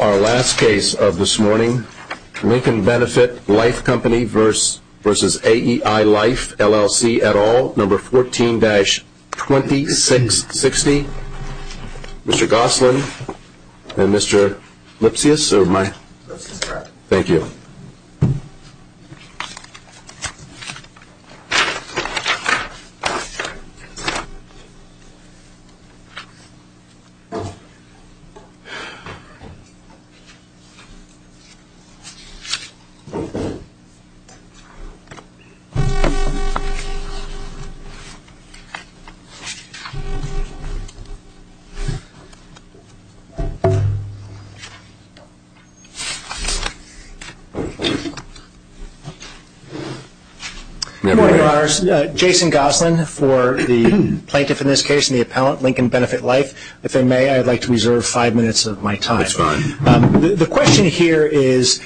Our last case of this morning, Lincoln Benefit Life Co v AEI Life LL C et al, No. 14-2660, Mr. Gosselin and Mr. Lipsius, thank you. Good morning, Your Honors. Jason Gosselin for the plaintiff in this case and the appellant, Lincoln Benefit Life. If I may, I'd like to reserve five minutes of my time. The question here is,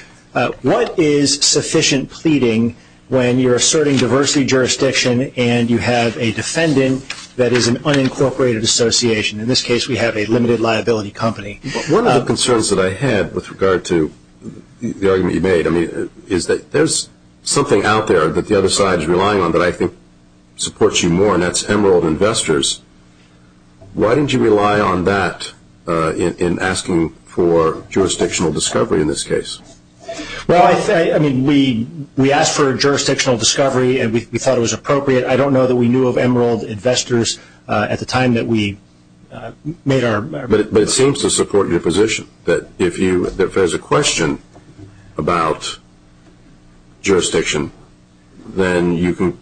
what is sufficient pleading when you're asserting diversity jurisdiction and you have a defendant that is an unincorporated association? In this case, we have a limited liability company. One of the concerns that I had with regard to the argument you made is that there's something out there that the other side is relying on that I think supports you more, and that's Emerald Investors. Why didn't you rely on that in asking for jurisdictional discovery in this case? We asked for jurisdictional discovery and we thought it was appropriate. I don't know that we knew of Emerald Investors at the time that we made our request. But it seems to support your position that if there's a question about jurisdiction, then you can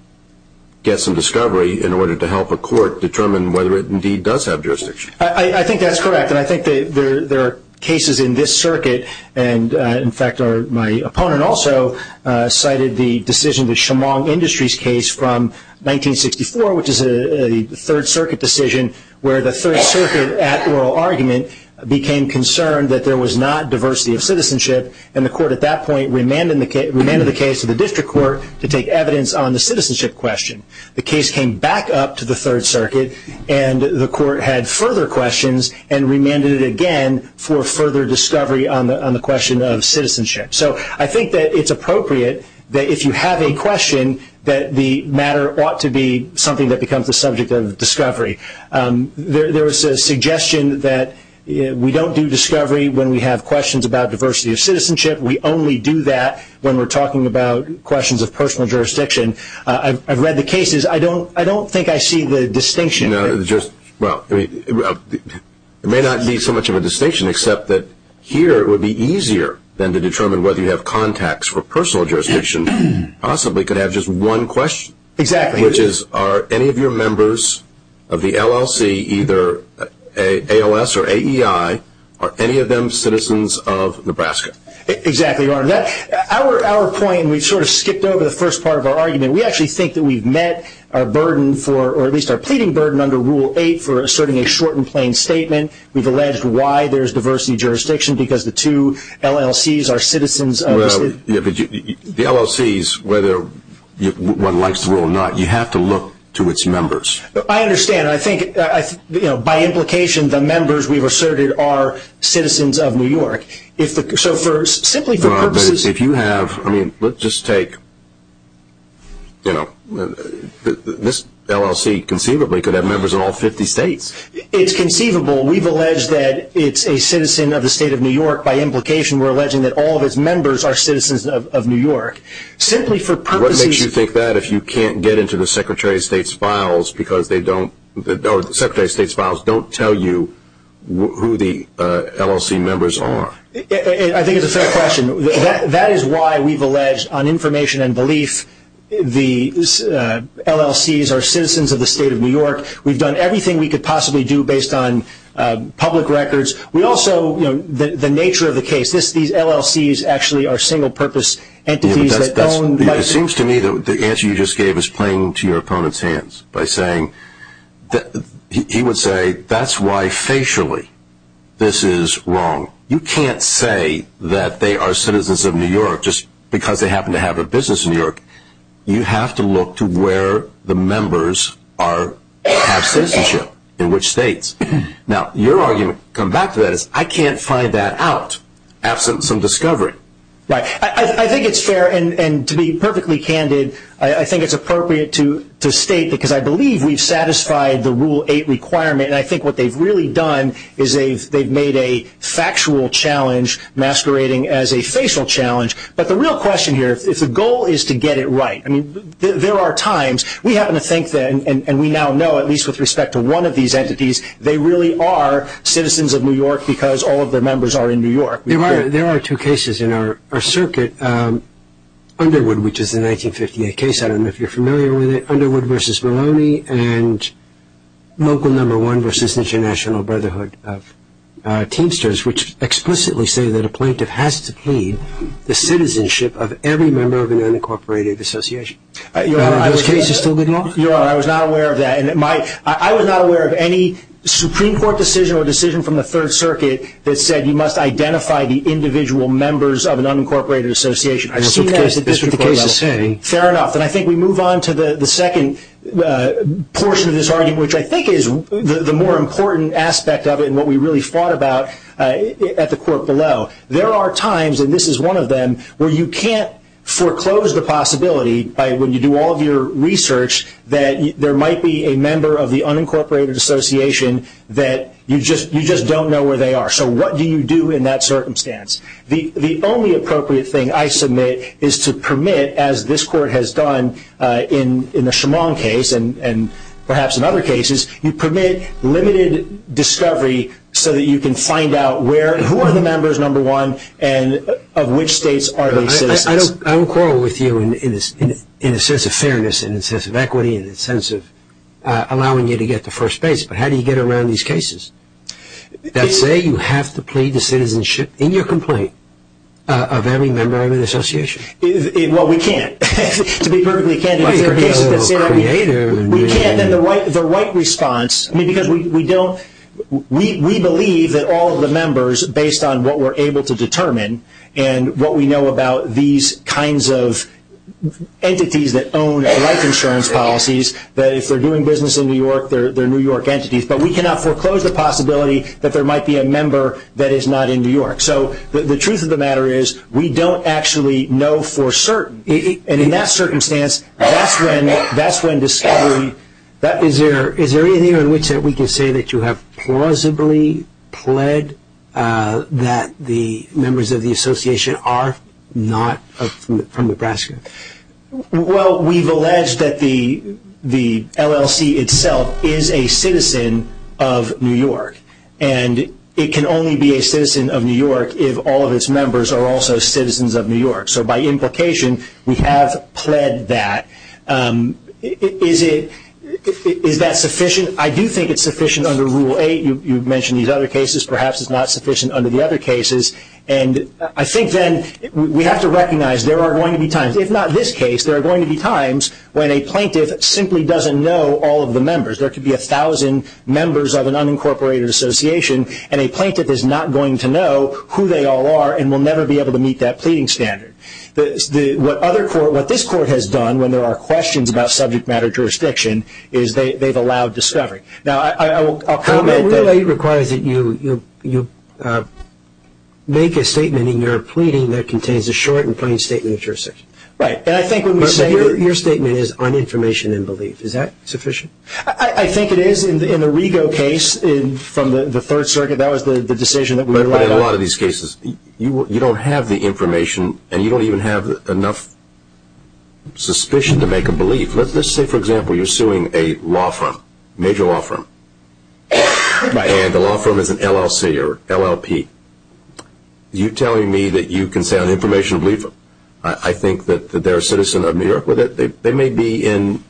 get some discovery in order to help a court determine whether it indeed does have jurisdiction. I think that's correct, and I think there are cases in this circuit. In fact, my opponent also cited the decision, the Chemong Industries case from 1964, which is a Third Circuit decision where the Third Circuit at oral argument became concerned that there was not diversity of citizenship. And the court at that point remanded the case to the district court to take evidence on the citizenship question. The case came back up to the Third Circuit and the court had further questions and remanded it again for further discovery on the question of citizenship. So I think that it's appropriate that if you have a question that the matter ought to be something that becomes the subject of discovery. There was a suggestion that we don't do discovery when we have questions about diversity of citizenship. We only do that when we're talking about questions of personal jurisdiction. I've read the cases. I don't think I see the distinction. It may not be so much of a distinction, except that here it would be easier than to determine whether you have contacts for personal jurisdiction possibly could have just one question, which is are any of your members of the LLC either ALS or AEI, are any of them citizens of Nebraska? Exactly, Your Honor. Our point, we've sort of skipped over the first part of our argument. We actually think that we've met our burden for, or at least our pleading burden under Rule 8 for asserting a short and plain statement. We've alleged why there's diversity of jurisdiction because the two LLCs are citizens of... Well, the LLCs, whether one likes them or not, you have to look to its members. I understand. By implication, the members we've asserted are citizens of New York. Simply for purposes... If you have... Let's just take... This LLC conceivably could have members in all 50 states. It's conceivable. We've alleged that it's a citizen of the state of New York by implication. We're alleging that all of its members are citizens of New York. Simply for purposes... You're saying that if you can't get into the Secretary of State's files because they don't... The Secretary of State's files don't tell you who the LLC members are. I think it's a fair question. That is why we've alleged on information and belief the LLCs are citizens of the state of New York. We've done everything we could possibly do based on public records. We also... The nature of the case, these LLCs actually are single purpose entities that own... It seems to me that the answer you just gave is playing to your opponent's hands by saying... He would say, that's why facially this is wrong. You can't say that they are citizens of New York just because they happen to have a business in New York. You have to look to where the members have citizenship in which states. Now, your argument, come back to that, is I can't find that out absent some discovery. Right. I think it's fair, and to be perfectly candid, I think it's appropriate to state, because I believe we've satisfied the Rule 8 requirement, and I think what they've really done is they've made a factual challenge masquerading as a facial challenge. But the real question here, if the goal is to get it right, I mean, there are times... We happen to think that, and we now know, at least with respect to one of these entities, they really are citizens of New York because all of their members are in New York. There are two cases in our circuit, Underwood, which is the 1958 case, I don't know if you're familiar with it, Underwood v. Maloney, and Local No. 1 v. International Brotherhood of Teamsters, which explicitly say that a plaintiff has to plead the citizenship of every member of an unincorporated association. Are those cases still going on? I was not aware of that. I was not aware of any Supreme Court decision or decision from the Third Circuit that said you must identify the individual members of an unincorporated association. I've seen that at the district court level. Fair enough. And I think we move on to the second portion of this argument, which I think is the more important aspect of it and what we really fought about at the court below. There are times, and this is one of them, where you can't foreclose the possibility, when you do all of your research, that there might be a member of the unincorporated association that you just don't know where they are. So what do you do in that circumstance? The only appropriate thing I submit is to permit, as this Court has done in the Shimon case and perhaps in other cases, you permit limited discovery so that you can find out where and who are the members, number one, and of which states are these citizens. I don't quarrel with you in a sense of fairness, in a sense of equity, in a sense of allowing you to get to first base, but how do you get around these cases that say you have to plead the citizenship? In your complaint, of every member of an association? Well, we can't. To be perfectly candid, there are cases that say we can't. We can't, and the right response, because we believe that all of the members, based on what we're able to determine and what we know about these kinds of entities that own life insurance policies, that if they're doing business in New York, they're New York entities. But we cannot foreclose the possibility that there might be a member that is not in New York. So the truth of the matter is we don't actually know for certain. And in that circumstance, that's when discovery – Is there anything on which we can say that you have plausibly pled that the members of the association are not from Nebraska? Well, we've alleged that the LLC itself is a citizen of New York, and it can only be a citizen of New York if all of its members are also citizens of New York. So by implication, we have pled that. Is that sufficient? I do think it's sufficient under Rule 8. You've mentioned these other cases. Perhaps it's not sufficient under the other cases. I think then we have to recognize there are going to be times, if not this case, there are going to be times when a plaintiff simply doesn't know all of the members. There could be 1,000 members of an unincorporated association, and a plaintiff is not going to know who they all are and will never be able to meet that pleading standard. What this Court has done when there are questions about subject matter jurisdiction is they've allowed discovery. Rule 8 requires that you make a statement in your pleading that contains a short and plain statement of jurisdiction. Right. And I think when we say that your statement is on information and belief, is that sufficient? I think it is. In the Rego case from the Third Circuit, that was the decision that we relied on. But in a lot of these cases, you don't have the information, and you don't even have enough suspicion to make a belief. Let's say, for example, you're suing a law firm, a major law firm, and the law firm is an LLC or LLP. You're telling me that you can say on information and belief, I think that they're a citizen of New York with it. They may be in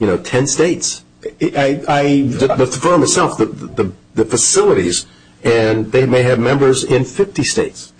10 states, the firm itself, the facilities, and they may have members in 50 states.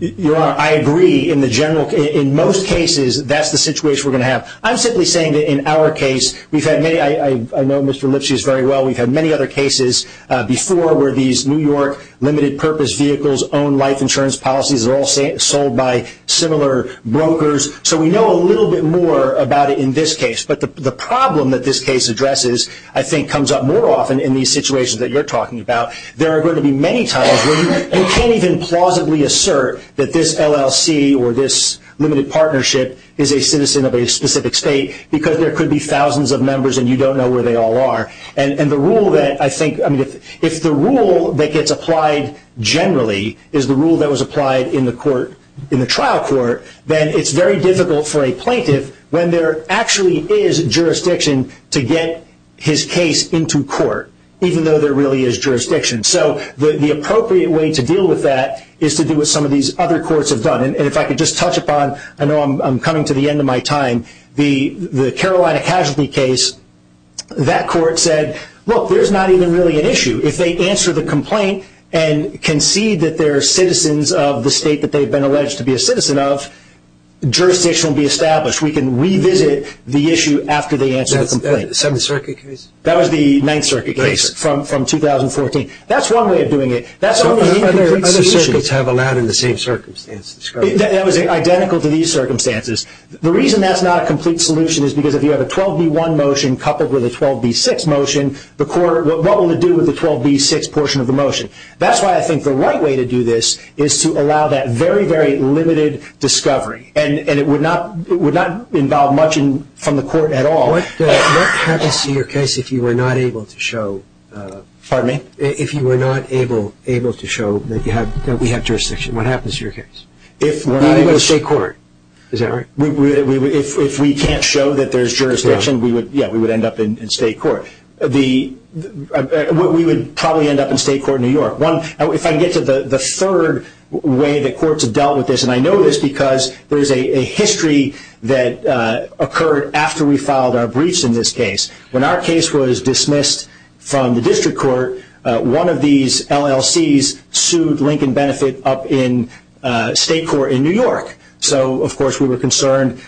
Your Honor, I agree. In most cases, that's the situation we're going to have. I'm simply saying that in our case, I know Mr. Lipschitz very well. We've had many other cases before where these New York limited purpose vehicles own life insurance policies. They're all sold by similar brokers. So we know a little bit more about it in this case. But the problem that this case addresses, I think, comes up more often in these situations that you're talking about. There are going to be many times where you can't even plausibly assert that this LLC or this limited partnership is a citizen of a specific state because there could be thousands of members, and you don't know where they all are. If the rule that gets applied generally is the rule that was applied in the trial court, then it's very difficult for a plaintiff, when there actually is jurisdiction, to get his case into court, even though there really is jurisdiction. So the appropriate way to deal with that is to do what some of these other courts have done. And if I could just touch upon, I know I'm coming to the end of my time, the Carolina casualty case. That court said, look, there's not even really an issue. If they answer the complaint and concede that they're citizens of the state that they've been alleged to be a citizen of, jurisdiction will be established. We can revisit the issue after they answer the complaint. That's the Seventh Circuit case? That was the Ninth Circuit case from 2014. That's one way of doing it. Other circuits have allowed in the same circumstances? That was identical to these circumstances. The reason that's not a complete solution is because if you have a 12B1 motion coupled with a 12B6 motion, what will it do with the 12B6 portion of the motion? That's why I think the right way to do this is to allow that very, very limited discovery, and it would not involve much from the court at all. What happens to your case if you are not able to show that we have jurisdiction? What happens to your case? You go to state court. Is that right? If we can't show that there's jurisdiction, we would end up in state court. We would probably end up in state court in New York. If I can get to the third way that courts have dealt with this, and I know this because there's a history that occurred after we filed our breach in this case. When our case was dismissed from the district court, one of these LLCs sued Lincoln Benefit up in state court in New York. So, of course, we were concerned.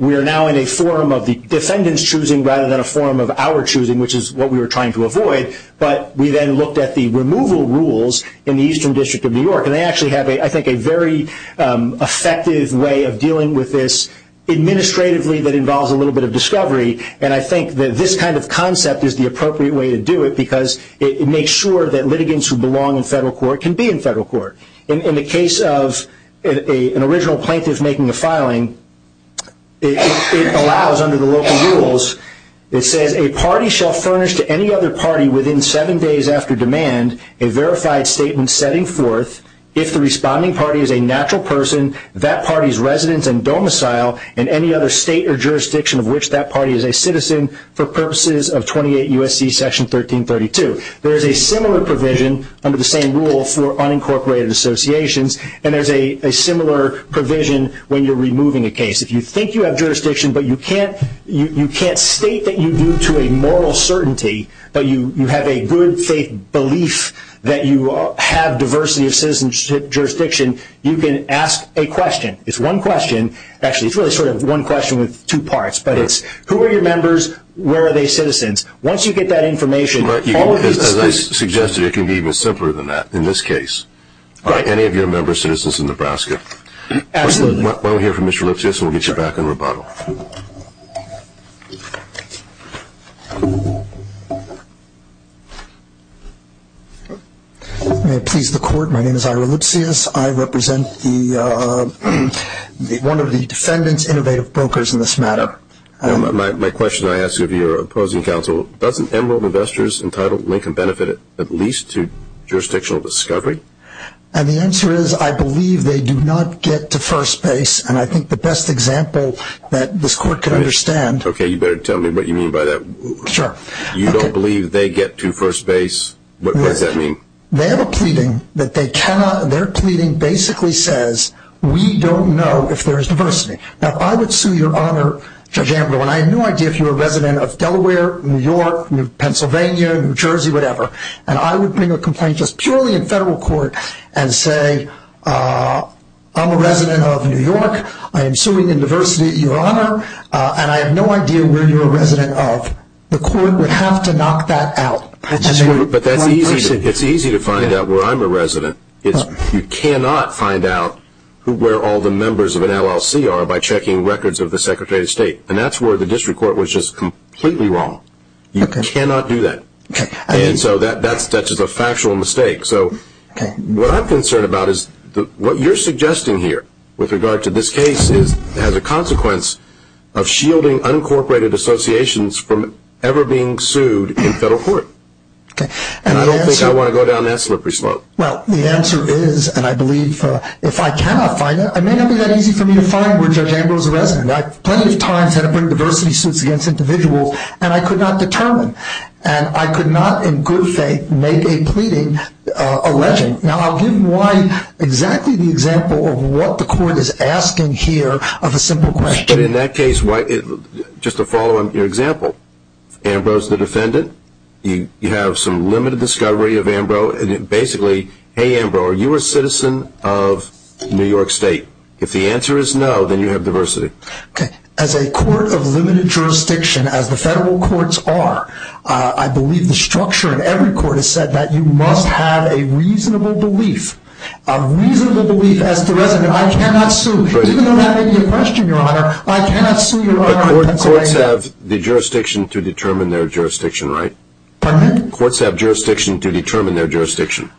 We are now in a forum of the defendant's choosing rather than a forum of our choosing, which is what we were trying to avoid. But we then looked at the removal rules in the Eastern District of New York, and they actually have, I think, a very effective way of dealing with this. Administratively, that involves a little bit of discovery, and I think that this kind of concept is the appropriate way to do it because it makes sure that litigants who belong in federal court can be in federal court. In the case of an original plaintiff making a filing, it allows under the local rules, it says a party shall furnish to any other party within seven days after demand a verified statement setting forth if the responding party is a natural person, that party's residence and domicile, and any other state or jurisdiction of which that party is a citizen for purposes of 28 U.S.C. Section 1332. There is a similar provision under the same rule for unincorporated associations, and there's a similar provision when you're removing a case. If you think you have jurisdiction, but you can't state that you do to a moral certainty, but you have a good faith belief that you have diversity of citizenship jurisdiction, you can ask a question. It's one question. Actually, it's really sort of one question with two parts, but it's who are your members, where are they citizens. Once you get that information, all of these things. As I suggested, it can be even simpler than that in this case. Right. Are any of your members citizens of Nebraska? Absolutely. Why don't we hear from Mr. Lipsius and we'll get you back in rebuttal. May it please the Court, my name is Ira Lipsius. I represent one of the defendant's innovative brokers in this matter. My question I ask of your opposing counsel, doesn't Emerald Investors entitle Lincoln Benefit at least to jurisdictional discovery? And the answer is I believe they do not get to first base, and I think the best example that this Court can understand. Okay, you better tell me what you mean by that. Sure. You don't believe they get to first base? What does that mean? They have a pleading that they cannot, their pleading basically says, we don't know if there is diversity. Now, I would sue your Honor, Judge Ambrose, and I have no idea if you're a resident of Delaware, New York, Pennsylvania, New Jersey, whatever, and I would bring a complaint just purely in federal court and say, I'm a resident of New York, I am suing in diversity at your Honor, and I have no idea where you're a resident of. The Court would have to knock that out. But that's easy, it's easy to find out where I'm a resident. You cannot find out where all the members of an LLC are by checking records of the Secretary of State, and that's where the district court was just completely wrong. You cannot do that. And so that's just a factual mistake. So what I'm concerned about is what you're suggesting here with regard to this case has a consequence of shielding unincorporated associations from ever being sued in federal court. And I don't think I want to go down that slippery slope. Well, the answer is, and I believe if I cannot find it, it may not be that easy for me to find where Judge Ambrose is a resident. I've plenty of times had to bring diversity suits against individuals, and I could not determine, and I could not, in good faith, make a pleading alleging. Now, I'll give you exactly the example of what the Court is asking here of a simple question. But in that case, just to follow your example, Ambrose the defendant, you have some limited discovery of Ambrose, and basically, hey, Ambrose, are you a citizen of New York State? If the answer is no, then you have diversity. Okay. As a court of limited jurisdiction, as the federal courts are, I believe the structure in every court has said that you must have a reasonable belief, a reasonable belief as to whether or not I cannot sue. Even though that may be a question, Your Honor, I cannot sue Your Honor in Pennsylvania. But courts have the jurisdiction to determine their jurisdiction, right? Pardon me? Courts have jurisdiction to determine their jurisdiction.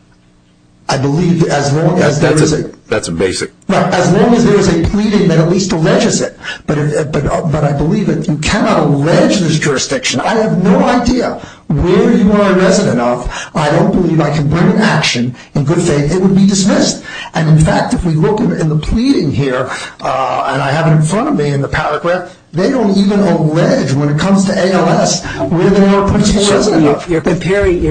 I believe as long as there is a... That's a basic... As long as there is a pleading that at least alleges it. But I believe that you cannot allege this jurisdiction. I have no idea where you are a resident of. I don't believe I can bring an action. In good faith, it would be dismissed. And, in fact, if we look in the pleading here, and I have it in front of me in the paragraph, they don't even allege when it comes to ALS where they are a potential resident of. You're comparing the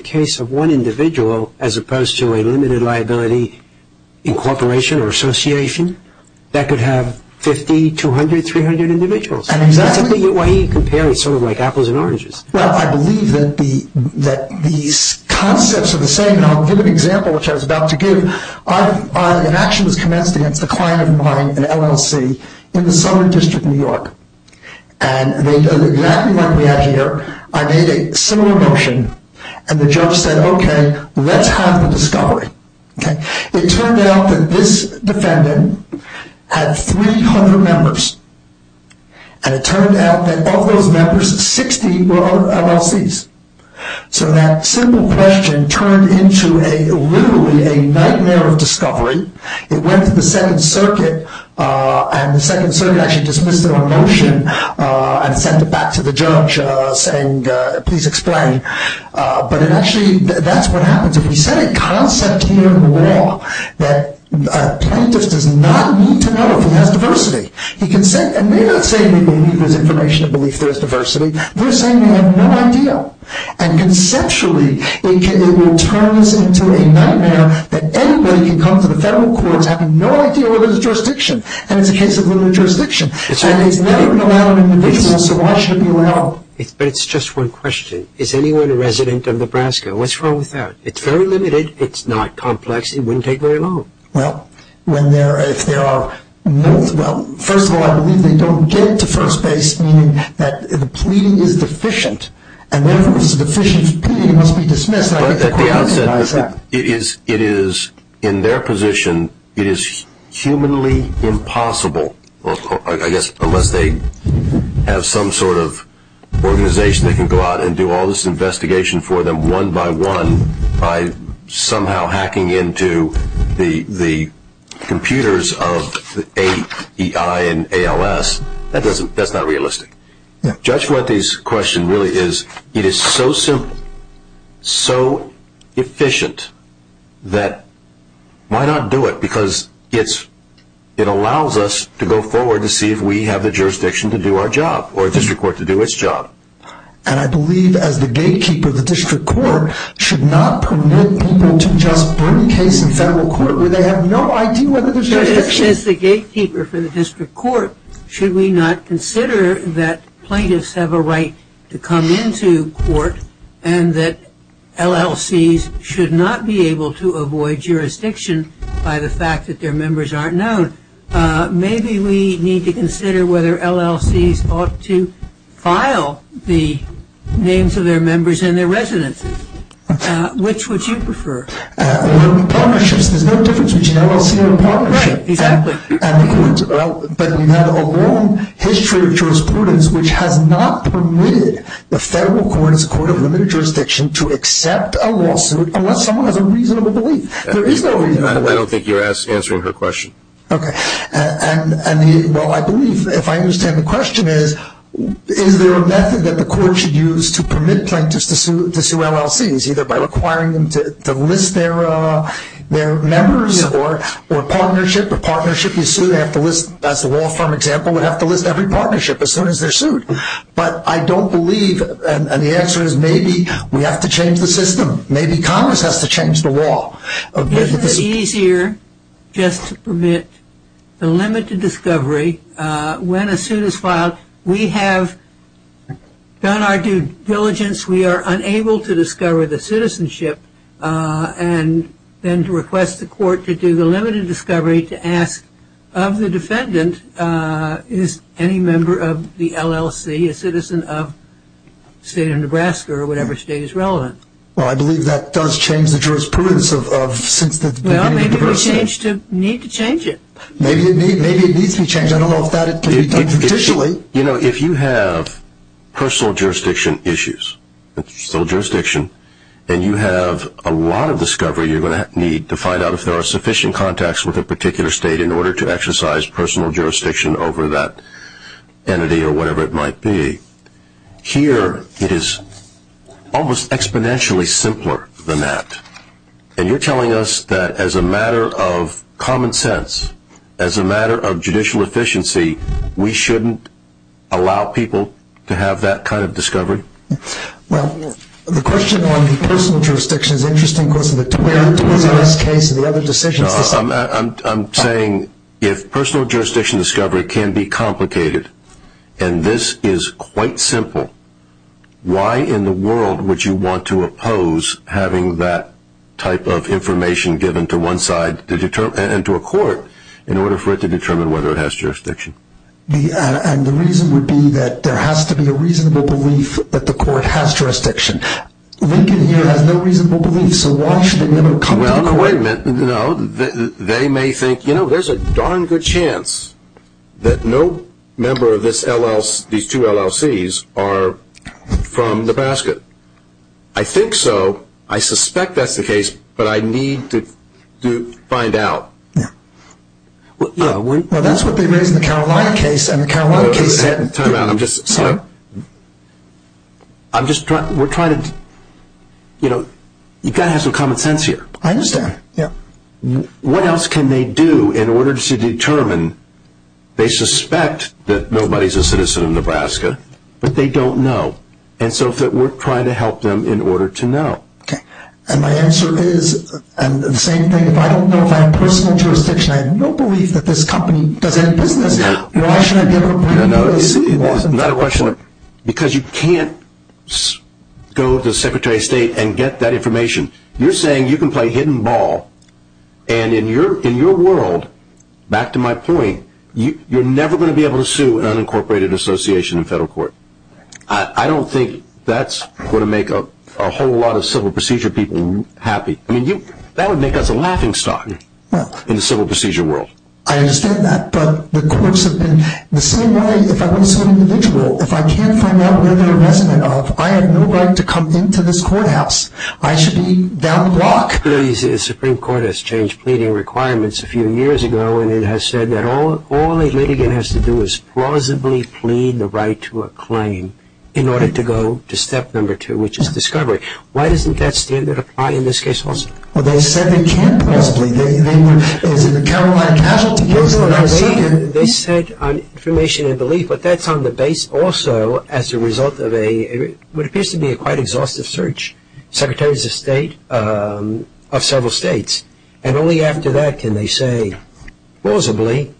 case of one individual as opposed to a limited liability incorporation or association? That could have 50, 200, 300 individuals. Exactly. That's the way you compare it, sort of like apples and oranges. Well, I believe that these concepts are the same. And I'll give an example, which I was about to give. An action was commenced against a client of mine, an LLC, in the Southern District of New York. And they did exactly what we had here. I made a similar motion. And the judge said, okay, let's have the discovery. It turned out that this defendant had 300 members. And it turned out that of those members, 60 were LLCs. So that simple question turned into literally a nightmare of discovery. It went to the Second Circuit. And the Second Circuit actually dismissed it on motion and sent it back to the judge saying, please explain. But actually, that's what happens. If you set a concept here in law that a plaintiff does not need to know if he has diversity. And they're not saying they need this information to believe there is diversity. They're saying they have no idea. And conceptually, it will turn this into a nightmare that anybody can come to the federal courts having no idea where there's jurisdiction. And it's a case of limited jurisdiction. And it's never been allowed on an individual, so why should it be allowed? But it's just one question. Is anyone a resident of Nebraska? What's wrong with that? It's very limited. It's not complex. It wouldn't take very long. Well, when there are, if there are no, well, first of all, I believe they don't get to first base, meaning that the pleading is deficient. And therefore, if it's a deficient pleading, it must be dismissed. But at the outset, it is, in their position, it is humanly impossible, I guess unless they have some sort of organization that can go out and do all this investigation for them one by one by somehow hacking into the computers of AEI and ALS. That's not realistic. Judge Fuentes' question really is, it is so simple, so efficient, that why not do it? Because it allows us to go forward to see if we have the jurisdiction to do our job or a district court to do its job. And I believe as the gatekeeper of the district court, should not permit people to just bring a case in federal court where they have no idea whether there's jurisdiction. As the gatekeeper for the district court, should we not consider that plaintiffs have a right to come into court and that LLCs should not be able to avoid jurisdiction by the fact that their members aren't known? Maybe we need to consider whether LLCs ought to file the names of their members and their residences. Which would you prefer? Right, exactly. But we have a long history of jurisprudence which has not permitted the federal court, as a court of limited jurisdiction, to accept a lawsuit unless someone has a reasonable belief. There is no reasonable belief. I don't think you're answering her question. Okay. Well, I believe if I understand the question is, is there a method that the court should use to permit plaintiffs to sue LLCs, either by requiring them to list their members or partnership? The partnership you sue, as the law firm example, would have to list every partnership as soon as they're sued. But I don't believe, and the answer is maybe we have to change the system. Maybe Congress has to change the law. Isn't it easier just to permit the limited discovery when a suit is filed? We have done our due diligence. We are unable to discover the citizenship, and then to request the court to do the limited discovery to ask of the defendant, is any member of the LLC a citizen of the state of Nebraska or whatever state is relevant? Well, I believe that does change the jurisprudence of since the beginning of diversity. Well, maybe we need to change it. Maybe it needs to be changed. You know, if you have personal jurisdiction issues, and you have a lot of discovery you're going to need to find out if there are sufficient contacts with a particular state in order to exercise personal jurisdiction over that entity or whatever it might be, here it is almost exponentially simpler than that. And you're telling us that as a matter of common sense, as a matter of judicial efficiency, we shouldn't allow people to have that kind of discovery? Well, the question on the personal jurisdiction is interesting because of the two areas in this case and the other decisions. I'm saying if personal jurisdiction discovery can be complicated, and this is quite simple, why in the world would you want to oppose having that type of information given to one side and to a court in order for it to determine whether it has jurisdiction? And the reason would be that there has to be a reasonable belief that the court has jurisdiction. Lincoln here has no reasonable belief, so why should a member of a company court? Well, no, wait a minute. No, they may think, you know, there's a darn good chance that no member of these two LLCs are from the basket. I think so. I suspect that's the case, but I need to find out. Well, that's what they raised in the Carolina case, and the Carolina case said... Time out, I'm just... I'm just trying, we're trying to, you know, you've got to have some common sense here. I understand, yeah. What else can they do in order to determine? They suspect that nobody's a citizen of Nebraska, but they don't know, and so we're trying to help them in order to know. Okay. And my answer is, and the same thing, if I don't know if I have personal jurisdiction, I have no belief that this company does any business. Why should I give up my U.S. citizenship? Because you can't go to the Secretary of State and get that information. You're saying you can play hidden ball, and in your world, back to my point, you're never going to be able to sue an unincorporated association in federal court. I don't think that's going to make a whole lot of civil procedure people happy. I mean, that would make us a laughingstock in the civil procedure world. I understand that, but the courts have been... The same way, if I want to sue an individual, if I can't find out whether they're a resident of, I have no right to come into this courthouse. I should be down the block. The Supreme Court has changed pleading requirements a few years ago, and it has said that all a litigant has to do is plausibly plead the right to a claim in order to go to step number two, which is discovery. Why doesn't that standard apply in this case also? Well, they said they can't plausibly. It's a Caroline casualty case. They said on information and belief, but that's on the base also as a result of a, what appears to be a quite exhaustive search, secretaries of state of several states, and only after that can they say, plausibly,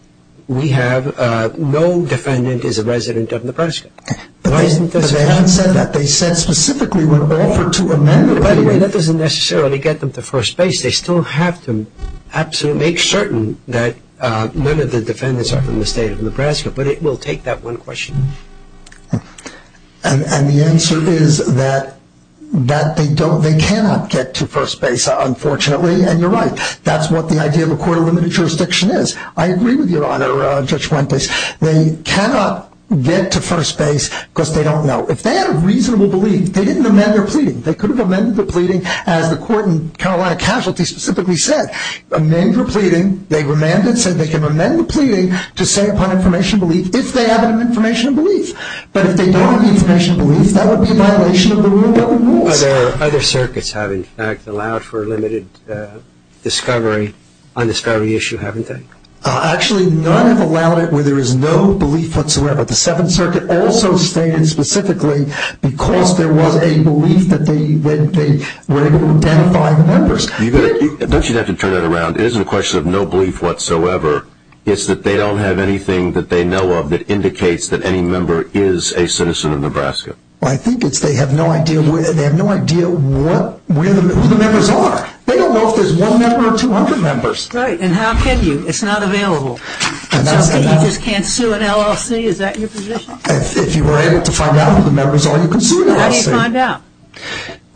we have no defendant is a resident of Nebraska. But they haven't said that. They said specifically we're offered to amend... By the way, that doesn't necessarily get them to first base. They still have to absolutely make certain that none of the defendants are from the state of Nebraska, but it will take that one question. And the answer is that they cannot get to first base, unfortunately, and you're right. That's what the idea of a court of limited jurisdiction is. I agree with you, Your Honor, Judge Wendt. They cannot get to first base because they don't know. They could have amended the pleading, as the court in Carolina Casualty specifically said. Amend the pleading. They remanded, said they can amend the pleading to say upon information and belief, if they have an information and belief. But if they don't have an information and belief, that would be a violation of the rule of government rules. Other circuits have, in fact, allowed for limited discovery on this very issue, haven't they? Actually, none have allowed it where there is no belief whatsoever. But the Seventh Circuit also stated specifically because there was a belief that they were able to identify members. Don't you have to turn that around? It isn't a question of no belief whatsoever. It's that they don't have anything that they know of that indicates that any member is a citizen of Nebraska. Well, I think it's they have no idea where the members are. They don't know if there's one member or 200 members. Right, and how can you? It's not available. So you just can't sue an LLC? Is that your position? If you were able to find out where the members are, you can sue an LLC. How do you find out?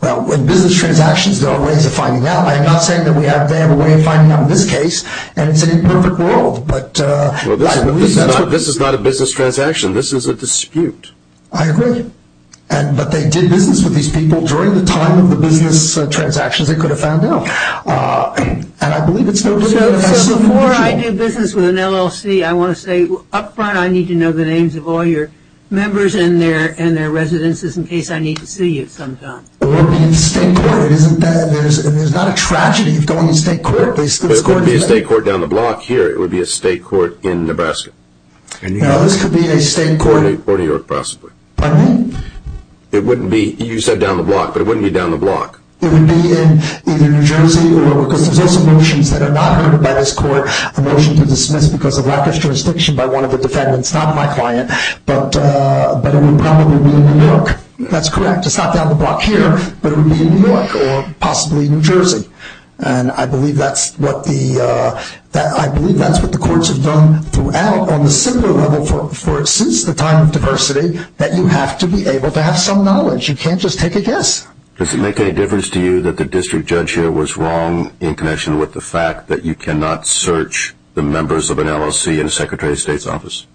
Well, with business transactions, there are ways of finding out. I'm not saying that they have a way of finding out in this case, and it's an imperfect world. Well, this is not a business transaction. This is a dispute. I agree. But they did business with these people during the time of the business transactions they could have found out. So before I do business with an LLC, I want to say up front, I need to know the names of all your members and their residences in case I need to sue you sometime. It wouldn't be in the state court. There's not a tragedy of going to state court. It wouldn't be a state court down the block here. It would be a state court in Nebraska. No, this could be a state court. Or New York, possibly. You said down the block, but it wouldn't be down the block. It would be in either New Jersey or, because there's also motions that are not heard by this court, a motion to dismiss because of lack of jurisdiction by one of the defendants, not my client, but it would probably be in New York. That's correct. It's not down the block here, but it would be in New York or possibly New Jersey. And I believe that's what the courts have done throughout on the similar level since the time of diversity, that you have to be able to have some knowledge. You can't just take a guess. Does it make any difference to you that the district judge here was wrong in connection with the fact that you cannot search the members of an LLC in a secretary of state's office?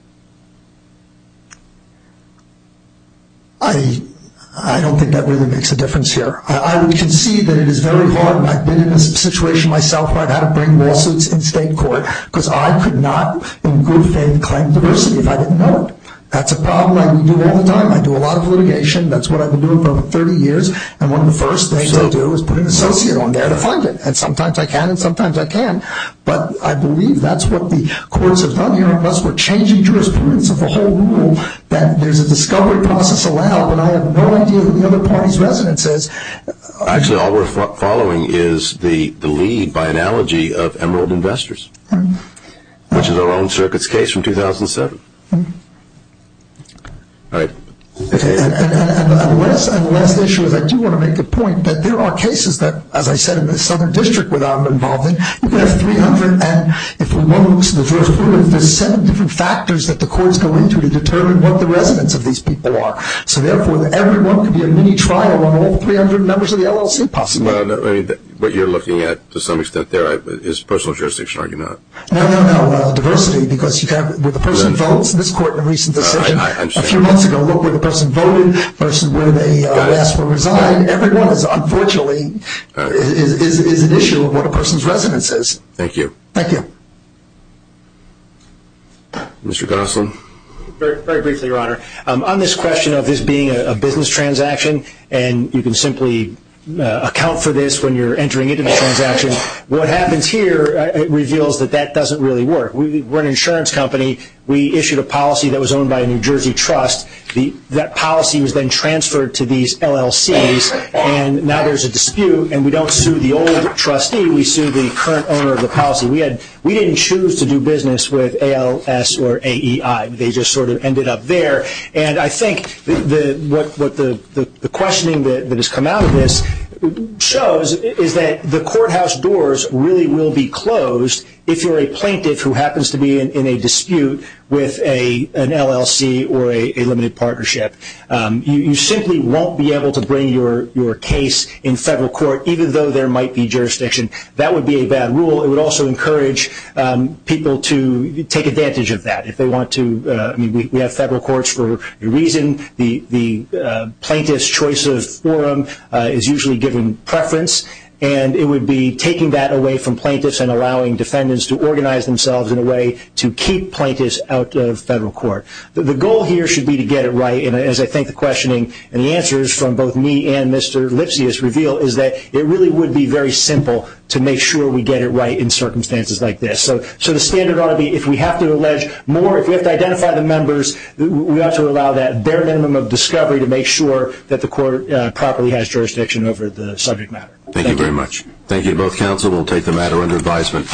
I don't think that really makes a difference here. We can see that it is very hard. I've been in a situation myself where I've had to bring lawsuits in state court because I could not, in good faith, claim diversity if I didn't know it. That's a problem I do all the time. I do a lot of litigation. That's what I've been doing for over 30 years. And one of the first things I do is put an associate on there to find it. And sometimes I can and sometimes I can't. But I believe that's what the courts have done here, unless we're changing jurisprudence of the whole rule that there's a discovery process allowed, but I have no idea who the other party's resident is. Actually, all we're following is the lead by analogy of Emerald Investors, which is our own circuit's case from 2007. All right. And the last issue is I do want to make the point that there are cases that, as I said in the Southern District where I'm involved in, you can have 300 and if one looks at the jurisprudence, there's seven different factors that the courts go into to determine what the residents of these people are. So, therefore, everyone can be a mini-trial on all 300 members of the LLC possibly. What you're looking at to some extent there is personal jurisdiction, are you not? No, no, no, diversity. Because with the person who votes in this court in a recent decision, a few months ago look where the person voted, the person where they asked for a resign, everyone is unfortunately is an issue of what a person's residence is. Thank you. Thank you. Mr. Gosselin. Very briefly, Your Honor. On this question of this being a business transaction and you can simply account for this when you're entering it in a transaction, what happens here reveals that that doesn't really work. We're an insurance company. We issued a policy that was owned by a New Jersey trust. That policy was then transferred to these LLCs, and now there's a dispute and we don't sue the old trustee, we sue the current owner of the policy. We didn't choose to do business with ALS or AEI. They just sort of ended up there. And I think what the questioning that has come out of this shows is that the courthouse doors really will be closed if you're a plaintiff who happens to be in a dispute with an LLC or a limited partnership. You simply won't be able to bring your case in federal court, even though there might be jurisdiction. That would be a bad rule. It would also encourage people to take advantage of that if they want to. We have federal courts for a reason. The plaintiff's choice of forum is usually given preference, and it would be taking that away from plaintiffs and allowing defendants to organize themselves in a way to keep plaintiffs out of federal court. The goal here should be to get it right, and as I think the questioning and the answers from both me and Mr. Lipsius reveal, is that it really would be very simple to make sure we get it right in circumstances like this. So the standard ought to be if we have to allege more, if we have to identify the members, we ought to allow that bare minimum of discovery to make sure that the court properly has jurisdiction over the subject matter. Thank you very much. Thank you, both counsel. We'll take the matter under advisement.